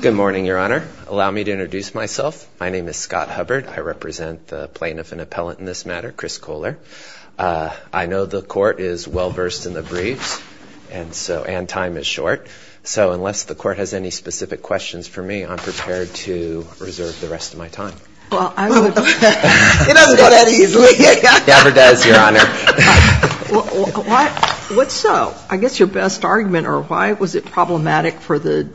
Good morning, Your Honor. Allow me to introduce myself. My name is Scott Hubbard. I represent the plaintiff and appellate in this matter, Chris Kohler. I know the court is well-versed in the briefs and time is short, so unless the court has any specific questions for me, I'm prepared to reserve the rest of my time. Well, I would... It doesn't go that easily. It never does, Your Honor. What's, I guess, your best argument or why was it problematic for the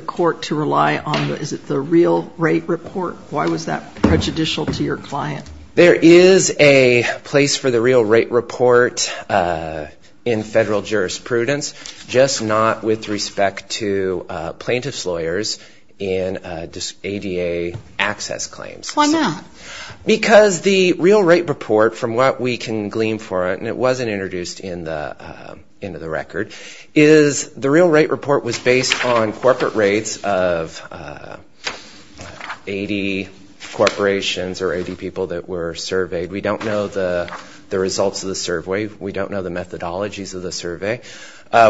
court to rely on, is it the real rate report? Why was that prejudicial to your client? There is a place for the real rate report in federal jurisprudence, just not with respect to plaintiff's lawyers in ADA access claims. Why not? Because the real rate report, from what we can glean for it, and it wasn't introduced into the record, is the real rate report was based on corporate rates of 80 corporations or 80 people that were surveyed. We don't know the results of the survey. We don't know the methodologies of the survey.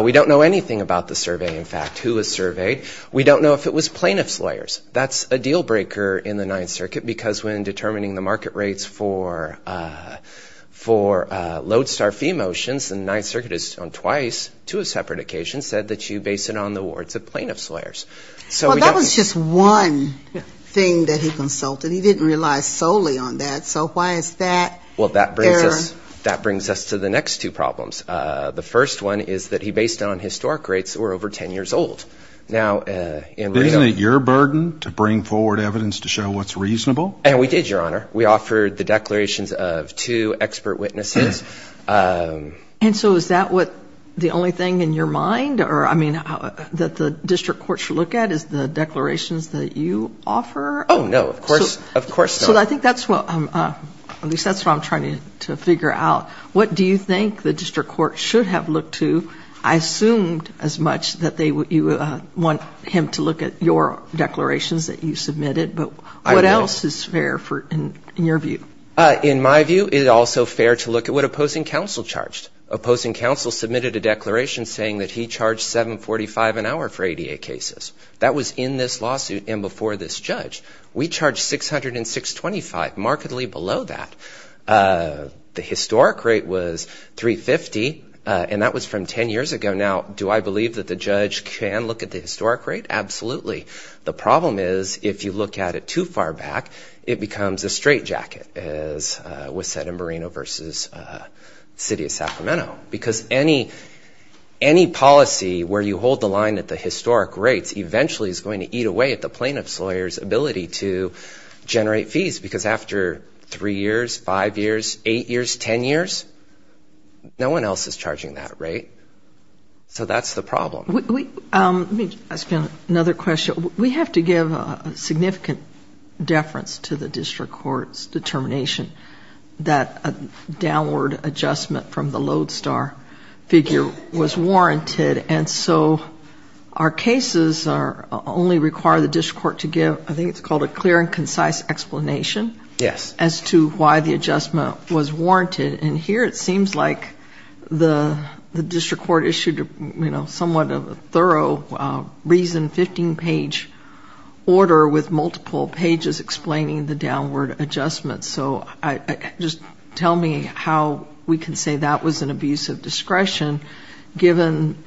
We don't know anything about the survey, in fact, who was surveyed. We don't know if it was plaintiff's lawyers. That's a deal breaker in the Ninth Circuit because when determining the market rates for lodestar fee motions, the Ninth Circuit has on twice, two separate occasions, said that you base it on the awards of plaintiff's lawyers. Well, that was just one thing that he consulted. He didn't rely solely on that, so why is that? Well, that brings us to the next two problems. The first one is that he based it on historic rates that were over 10 years old. Isn't it your burden to bring forward evidence to show what's reasonable? And we did, Your Honor. We offered the declarations of two expert witnesses. And so is that what the only thing in your mind or, I mean, that the district courts should look at is the declarations that you offer? Oh, no, of course not. Well, I think that's what, at least that's what I'm trying to figure out. What do you think the district court should have looked to? I assumed as much that you would want him to look at your declarations that you submitted, but what else is fair in your view? In my view, it is also fair to look at what opposing counsel charged. Opposing counsel submitted a declaration saying that he charged $7.45 an hour for ADA cases. That was in this lawsuit and before this judge. We charged $606.25, markedly below that. The historic rate was $350, and that was from 10 years ago. Now, do I believe that the judge can look at the historic rate? Absolutely. The problem is if you look at it too far back, it becomes a straitjacket, as was said in Moreno v. City of Sacramento. Because any policy where you hold the line at the historic rates eventually is going to eat away at the plaintiff's lawyer's ability to generate fees. Because after 3 years, 5 years, 8 years, 10 years, no one else is charging that rate. So that's the problem. Let me ask you another question. We have to give a significant deference to the district court's determination that a downward adjustment from the Lodestar figure was warranted. And so our cases only require the district court to give, I think it's called a clear and concise explanation as to why the adjustment was warranted. And here it seems like the district court issued somewhat of a thorough, reasoned 15-page order with multiple pages explaining the downward adjustment. So just tell me how we can say that was an abuse of discretion given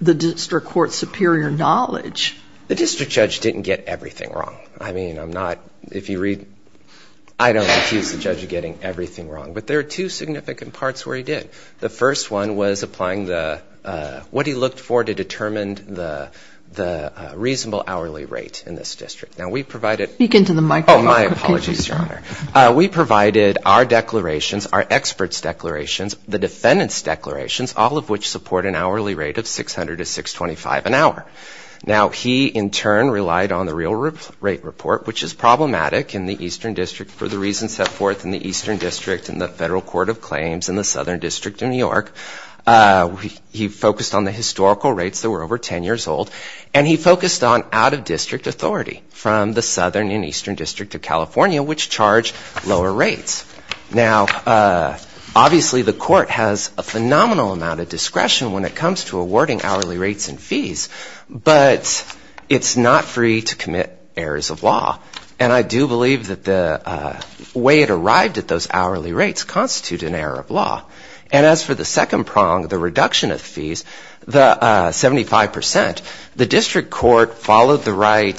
the district court's superior knowledge. The district judge didn't get everything wrong. I mean, I'm not, if you read, I don't accuse the judge of getting everything wrong. But there are two significant parts where he did. The first one was applying the, what he looked for to determine the reasonable hourly rate in this district. Now, we provided. Speak into the microphone. Oh, my apologies, Your Honor. We provided our declarations, our experts' declarations, the defendant's declarations, all of which support an hourly rate of 600 to 625 an hour. Now, he, in turn, relied on the real rate report, which is problematic in the Eastern District for the reasons set forth in the Eastern District in the Federal Court of Claims in the Southern District of New York. He focused on the historical rates that were over 10 years old. And he focused on out-of-district authority from the Southern and Eastern District of California, which charge lower rates. Now, obviously, the court has a phenomenal amount of discretion when it comes to awarding hourly rates and fees. But it's not free to commit errors of law. And I do believe that the way it arrived at those hourly rates constitute an error of law. And as for the second prong, the reduction of fees, the 75%, the district court followed the right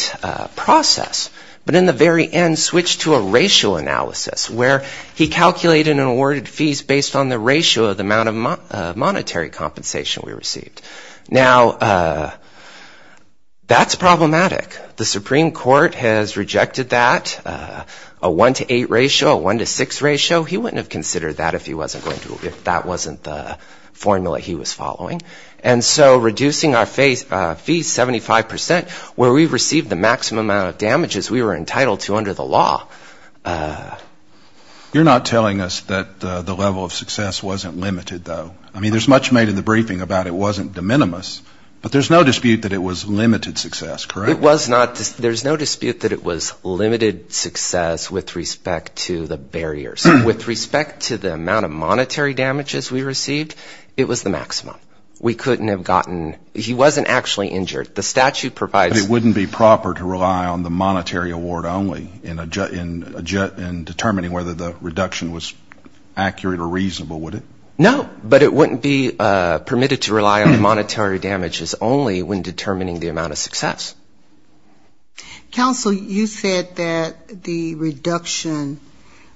process, but in the very end switched to a racial analysis where he calculated and awarded fees based on the ratio of the amount of monetary compensation we received. Now, that's problematic. The Supreme Court has rejected that, a one-to-eight ratio, a one-to-six ratio. He wouldn't have considered that if he wasn't going to, if that wasn't the formula he was following. And so reducing our fees 75%, where we received the maximum amount of damages we were entitled to under the law. You're not telling us that the level of success wasn't limited, though. I mean, there's much made in the briefing about it wasn't de minimis. But there's no dispute that it was limited success, correct? There's no dispute that it was limited success with respect to the barriers. With respect to the amount of monetary damages we received, it was the maximum. We couldn't have gotten, he wasn't actually injured. The statute provides. But it wouldn't be proper to rely on the monetary award only in determining whether the reduction was accurate or reasonable, would it? No, but it wouldn't be permitted to rely on the monetary damages only when determining the amount of success. Counsel, you said that the reduction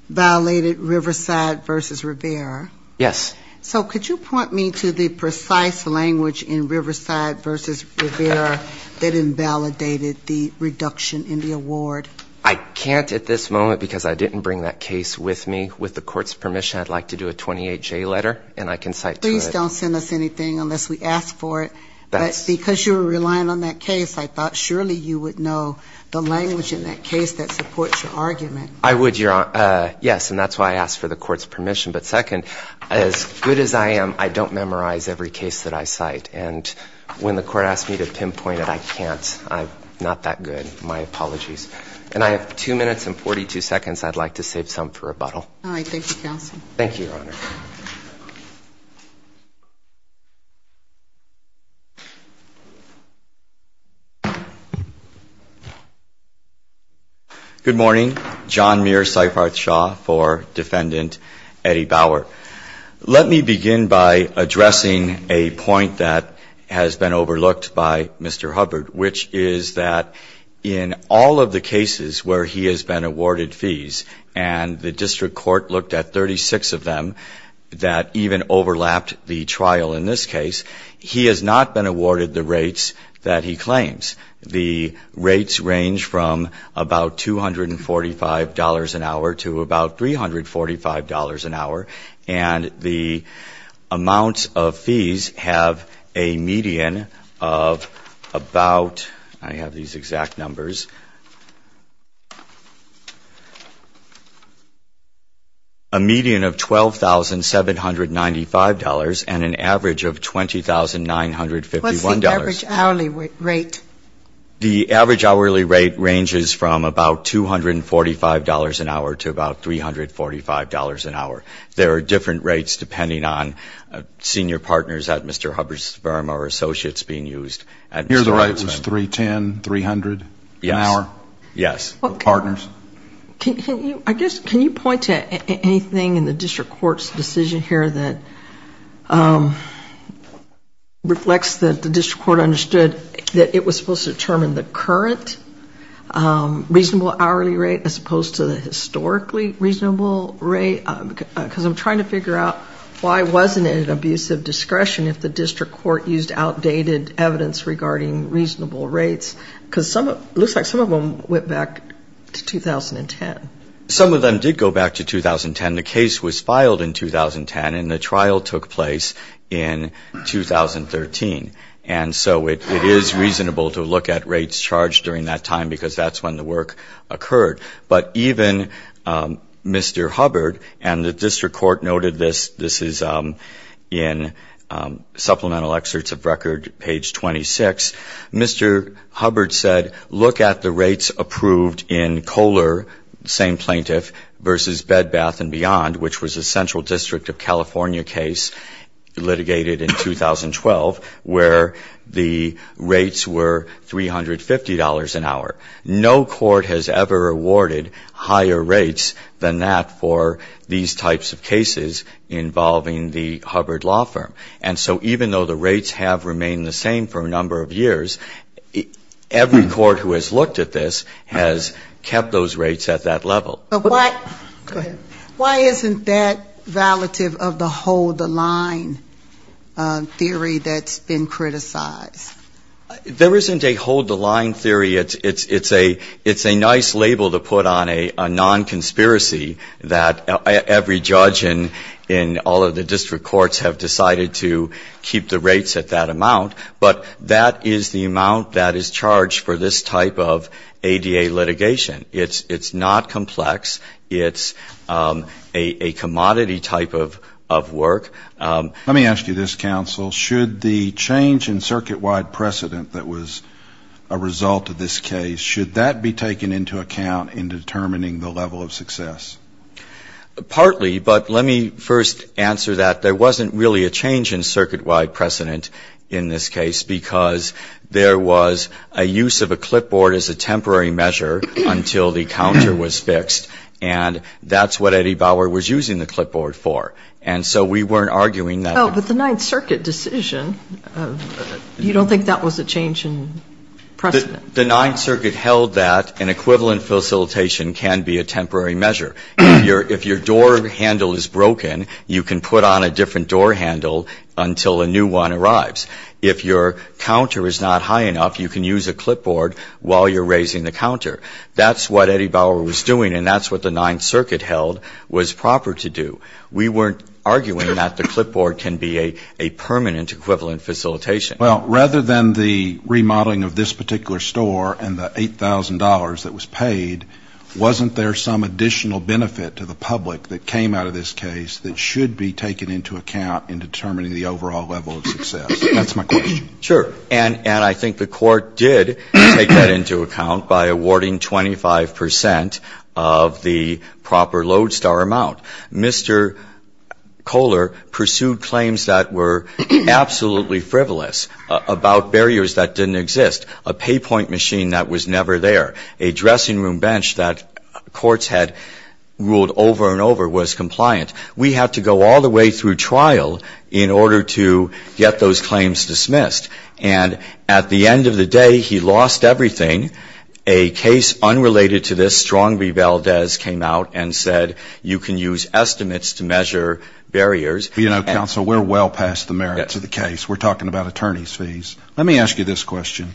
violated Riverside v. Rivera. Yes. So could you point me to the precise language in Riverside v. Rivera that invalidated the reduction in the award? I can't at this moment because I didn't bring that case with me. With the court's permission, I'd like to do a 28-J letter, and I can cite to it. Please don't send us anything unless we ask for it. But because you were relying on that case, I thought surely you would know the language in that case that supports your argument. I would, Your Honor. Yes, and that's why I asked for the court's permission. But second, as good as I am, I don't memorize every case that I cite. And when the court asked me to pinpoint it, I can't. I'm not that good. My apologies. And I have 2 minutes and 42 seconds. I'd like to save some for rebuttal. All right. Thank you, Counsel. Thank you, Your Honor. Good morning. John Muir, Seifarth Shaw for Defendant Eddie Bauer. Let me begin by addressing a point that has been overlooked by Mr. Hubbard, which is that in all of the cases where he has been awarded fees, and the district court looked at 36 of them that even overlapped the trial in this case, he has not been awarded the rates that he claims. The rates range from about $245 an hour to about $345 an hour. And the amounts of fees have a median of about, I have these exact numbers. A median of $12,795 and an average of $20,951. What's the average hourly rate? The average hourly rate ranges from about $245 an hour to about $345 an hour. There are different rates depending on senior partners that Mr. Hubbard's firm or associates being used. Here the rate was $310, $300 an hour? Yes. Can you point to anything in the district court's decision here that reflects that the district court understood that it was supposed to determine the current reasonable hourly rate as opposed to the historically reasonable rate? Because I'm trying to figure out why wasn't it an abuse of discretion if the district court used outdated evidence regarding reasonable rates? Because it looks like some of them went back to 2010. Some of them did go back to 2010. The case was filed in 2010 and the trial took place in 2013. And so it is reasonable to look at rates charged during that time because that's when the work occurred. But even Mr. Hubbard, and the district court noted this, this is in supplemental excerpts of record page 26, Mr. Hubbard said, look at the rates approved in Kohler, same plaintiff, versus Bed Bath and Beyond, which was a central district of California case litigated in 2012 where the rates were $350 an hour. No court has ever awarded higher rates than that for these types of cases involving the Hubbard law firm. And so even though the rates have remained the same for a number of years, every court who has looked at this has kept those rates at that level. Why isn't that relative of the hold the line theory that's been criticized? There isn't a hold the line theory. It's a nice label to put on a non-conspiracy that every judge in all of the district courts have decided to keep the rates at that amount, but that is the amount that is charged for this type of ADA litigation. It's not complex. It's a commodity type of work. Let me ask you this, counsel. Should the change in circuit-wide precedent that was a result of this case, should that be taken into account in determining the level of success? Partly, but let me first answer that. There wasn't really a change in circuit-wide precedent in this case because there was a use of a clipboard as a temporary measure until the counter was fixed, and that's what Eddie Bauer was using the clipboard for. And so we weren't arguing that. Oh, but the Ninth Circuit decision, you don't think that was a change in precedent? The Ninth Circuit held that an equivalent facilitation can be a temporary measure. If your door handle is broken, you can put on a different door handle until a new one arrives. If your counter is not high enough, you can use a clipboard while you're raising the counter. That's what Eddie Bauer was doing, and that's what the Ninth Circuit held was proper to do. We weren't arguing that the clipboard can be a permanent equivalent facilitation. Well, rather than the remodeling of this particular store and the $8,000 that was paid, wasn't there some additional benefit to the public that came out of this case that should be taken into account in determining the overall level of success? That's my question. Sure. And I think the Court did take that into account by awarding 25 percent of the proper lodestar amount. Mr. Kohler pursued claims that were absolutely frivolous about barriers that didn't exist. A pay point machine that was never there. A dressing room bench that courts had ruled over and over was compliant. We had to go all the way through trial in order to get those claims dismissed. And at the end of the day, he lost everything. A case unrelated to this, Strong v. Valdez, came out and said you can use estimates to measure barriers. You know, counsel, we're well past the merits of the case. We're talking about attorney's fees. Let me ask you this question.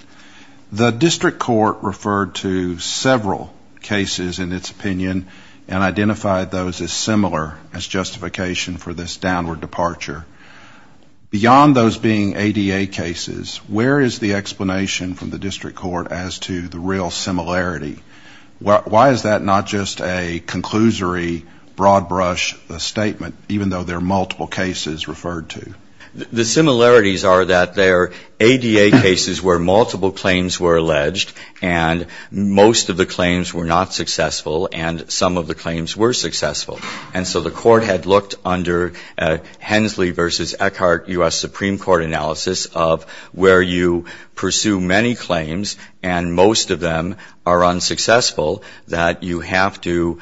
The district court referred to several cases in its opinion and identified those as similar as justification for this downward departure. Beyond those being ADA cases, where is the explanation from the district court as to the real similarity? Why is that not just a conclusory broad brush statement, even though there are multiple cases referred to? The similarities are that there are ADA cases where multiple claims were alleged and most of the claims were not successful and some of the claims were successful. And so the court had looked under Hensley v. Eckhart U.S. Supreme Court analysis of where you pursue many claims and most of them are unsuccessful, that you have to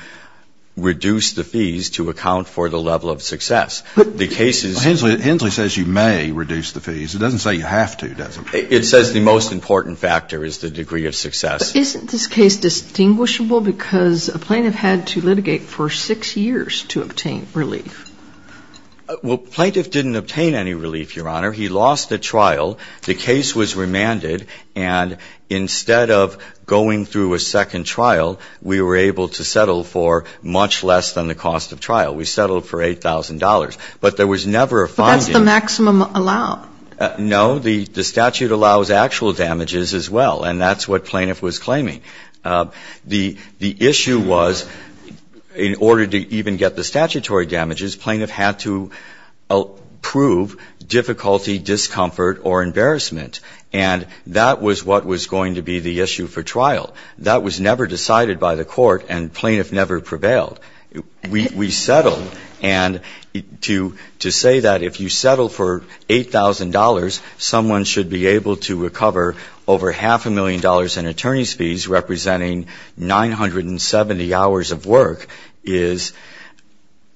reduce the fees to account for the level of success. The case is... Hensley says you may reduce the fees. It doesn't say you have to, does it? It says the most important factor is the degree of success. Isn't this case distinguishable because a plaintiff had to litigate for six years to obtain relief? Well, plaintiff didn't obtain any relief, Your Honor. He lost a trial. The case was remanded and instead of going through a second trial, we were able to settle for much less than the cost of trial. We settled for $8,000. But there was never a finding... But that's the maximum allow. No. The statute allows actual damages as well and that's what plaintiff was claiming. The issue was in order to even get the statutory damages, plaintiff had to approve difficulty, discomfort or embarrassment. And that was what was going to be the issue for trial. That was never decided by the court and plaintiff never prevailed. We settled and to say that if you settle for $8,000, someone should be able to recover over half a million dollars in attorney's fees representing 970 hours of work is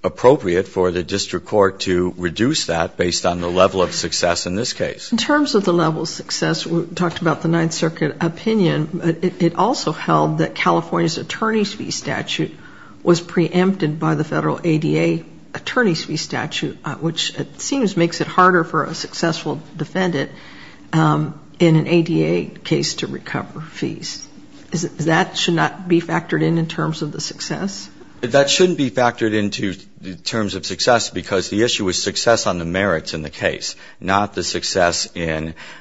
appropriate for the district court to reduce that based on the level of success in this case. In terms of the level of success, we talked about the Ninth Circuit opinion. It also held that California's attorney's fee statute was preempted by the federal ADA attorney's fee statute, which it seems makes it harder for a successful defendant in an ADA case to recover fees. That should not be factored in in terms of the success? That shouldn't be factored into terms of success because the issue was success on the merits in the case, not the success in the case.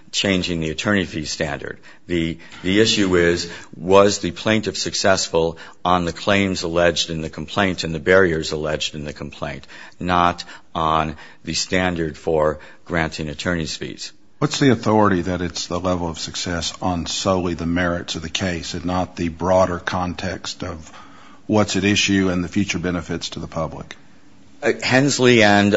The issue is was the plaintiff successful on the claims alleged in the complaint and the barriers alleged in the complaint, not on the standard for granting attorney's fees. What's the authority that it's the level of success on solely the merits of the case and not the broader context of what's at issue and the future benefits to the public? Hensley and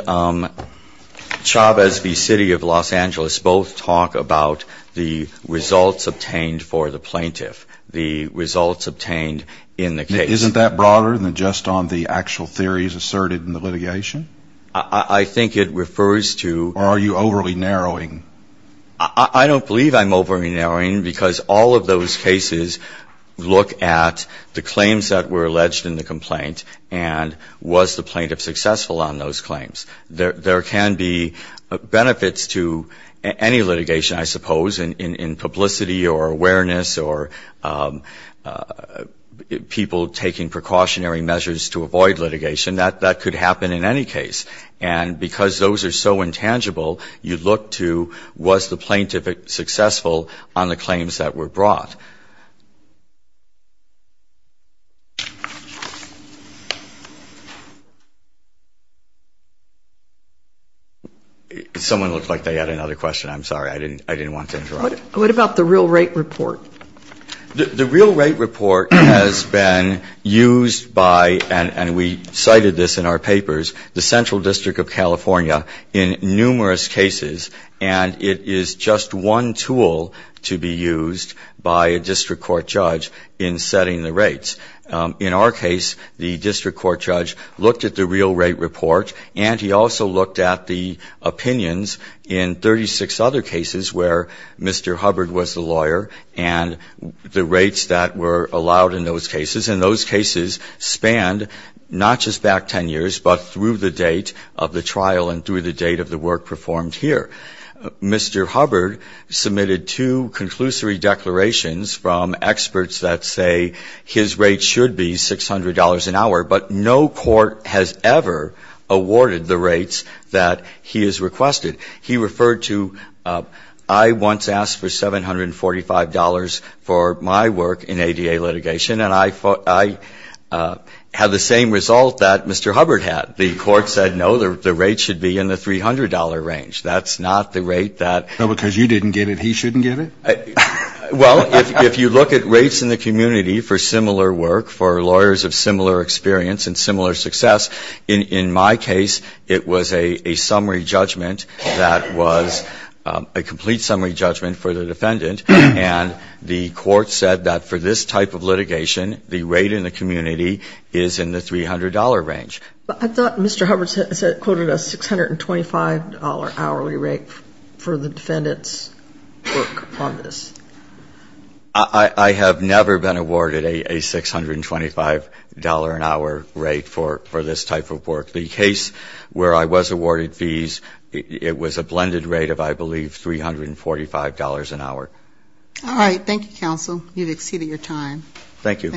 Chavez v. City of Los Angeles both talk about the results obtained for the plaintiff, the results obtained in the case. Isn't that broader than just on the actual theories asserted in the litigation? I think it refers to... Or are you overly narrowing? I don't believe I'm overly narrowing because all of those cases look at the claims that were alleged in the complaint and was the plaintiff successful on those claims. There can be benefits to any litigation, I suppose, in publicity or awareness or people taking precautionary measures to avoid I don't think that's the case. And because those are so intangible, you look to was the plaintiff successful on the claims that were brought. Someone looked like they had another question. I'm sorry. I didn't want to interrupt. What about the real rate report? The real rate report has been used by, and we cited this in our papers, the Central District of California in numerous cases. And it is just one tool to be used by a district court judge in setting the rates. In our case, the district court judge looked at the real rate report, and he also looked at the opinions in 36 other cases where Mr. Hubbard was the lawyer and the rates that were allowed in those cases. And those cases spanned not just back 10 years, but through the date of the trial and through the date of the work performed here. Mr. Hubbard submitted two conclusory declarations from experts that say his rate should be $600 an hour, but no court has ever awarded the rates that he has requested. He referred to, I once asked for $745 for my work in ADA litigation, and I had the same result that Mr. Hubbard had. The court said, no, the rate should be in the $300 range. That's not the rate that ---- No, because you didn't give it, he shouldn't give it? Well, if you look at rates in the community for similar work, for lawyers of similar experience and similar success, in my case, it was a summary judgment that was a complete summary judgment for the defendant, and the court said that for this type of litigation, the rate in the community is in the $300 range. But I thought Mr. Hubbard quoted a $625 hourly rate for the defendant's work on the district court. I have never been awarded a $625 an hour rate for this type of work. The case where I was awarded fees, it was a blended rate of, I believe, $345 an hour. All right. Thank you, counsel. You've exceeded your time. Thank you.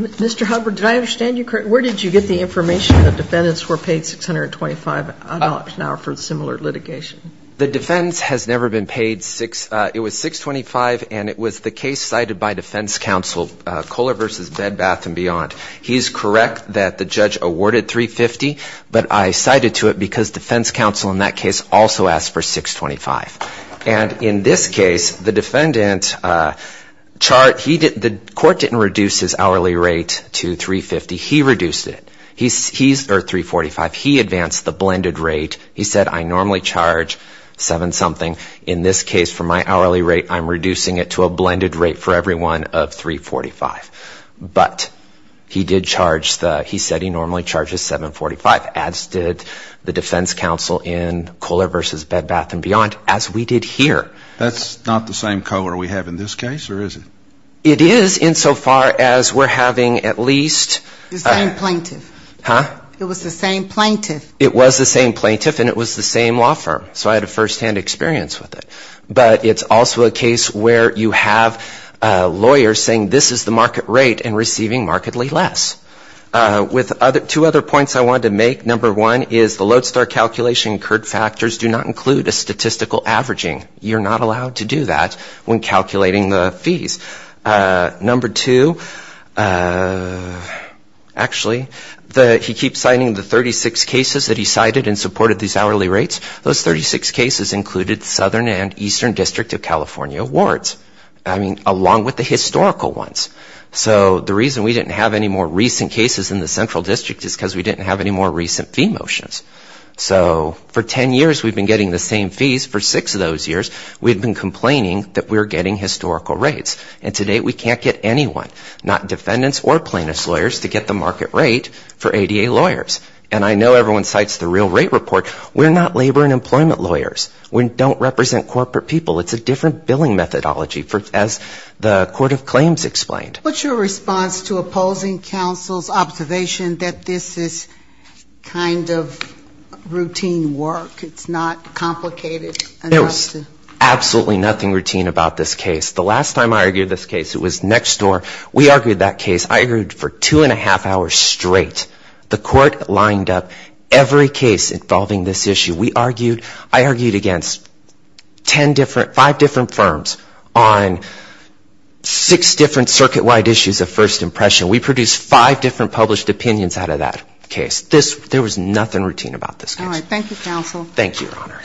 Mr. Hubbard, did I understand you correctly? Where did you get the information that defendants were paid $625 an hour for similar litigation? The defendant has never been paid $625, and it was the case cited by defense counsel, Kohler v. Bed Bath & Beyond. He's correct that the judge awarded $350, but I cited to it because defense counsel in that case also asked for $625. And in this case, the defendant, the court didn't reduce his hourly rate to $350. He reduced it, or $345. He advanced the blended rate. He said I normally charge $7-something. In this case, for my hourly rate, I'm reducing it to a blended rate for everyone of $345. But he did charge the, he said he normally charges $745, as did the defense counsel in Kohler v. Bed Bath & Beyond, as we did here. That's not the same Kohler we have in this case, or is it? It is, insofar as we're having at least the same plaintiff. And it was the same law firm, so I had a first-hand experience with it. But it's also a case where you have a lawyer saying this is the market rate and receiving markedly less. Two other points I wanted to make. Number one is the Lodestar calculation incurred factors do not include a statistical averaging. You're not allowed to do that when calculating the fees. Number two, actually, he keeps citing the 36 cases that he cited and supported these hourly rates. Those 36 cases included Southern and Eastern District of California wards. I mean, along with the historical ones. So the reason we didn't have any more recent cases in the Central District is because we didn't have any more recent fee motions. So for 10 years we've been getting the same fees. For six of those years we've been complaining that we're getting historical rates. And today we can't get anyone, not defendants or plaintiffs' lawyers, to get the market rate for ADA lawyers. And I know everyone cites the real rate report. We're not labor and employment lawyers. We don't represent corporate people. It's a different billing methodology, as the Court of Claims explained. What's your response to opposing counsel's observation that this is kind of routine work? It's not complicated enough to? There was absolutely nothing routine about this case. The last time I argued this case it was next door. We argued that case. I argued for two and a half hours straight. The court lined up every case involving this issue. We argued, I argued against ten different, five different firms on six different circuit-wide issues of first impression. We produced five different published opinions out of that case. There was nothing routine about this case. All right. Thank you, counsel. Thank you, Your Honor.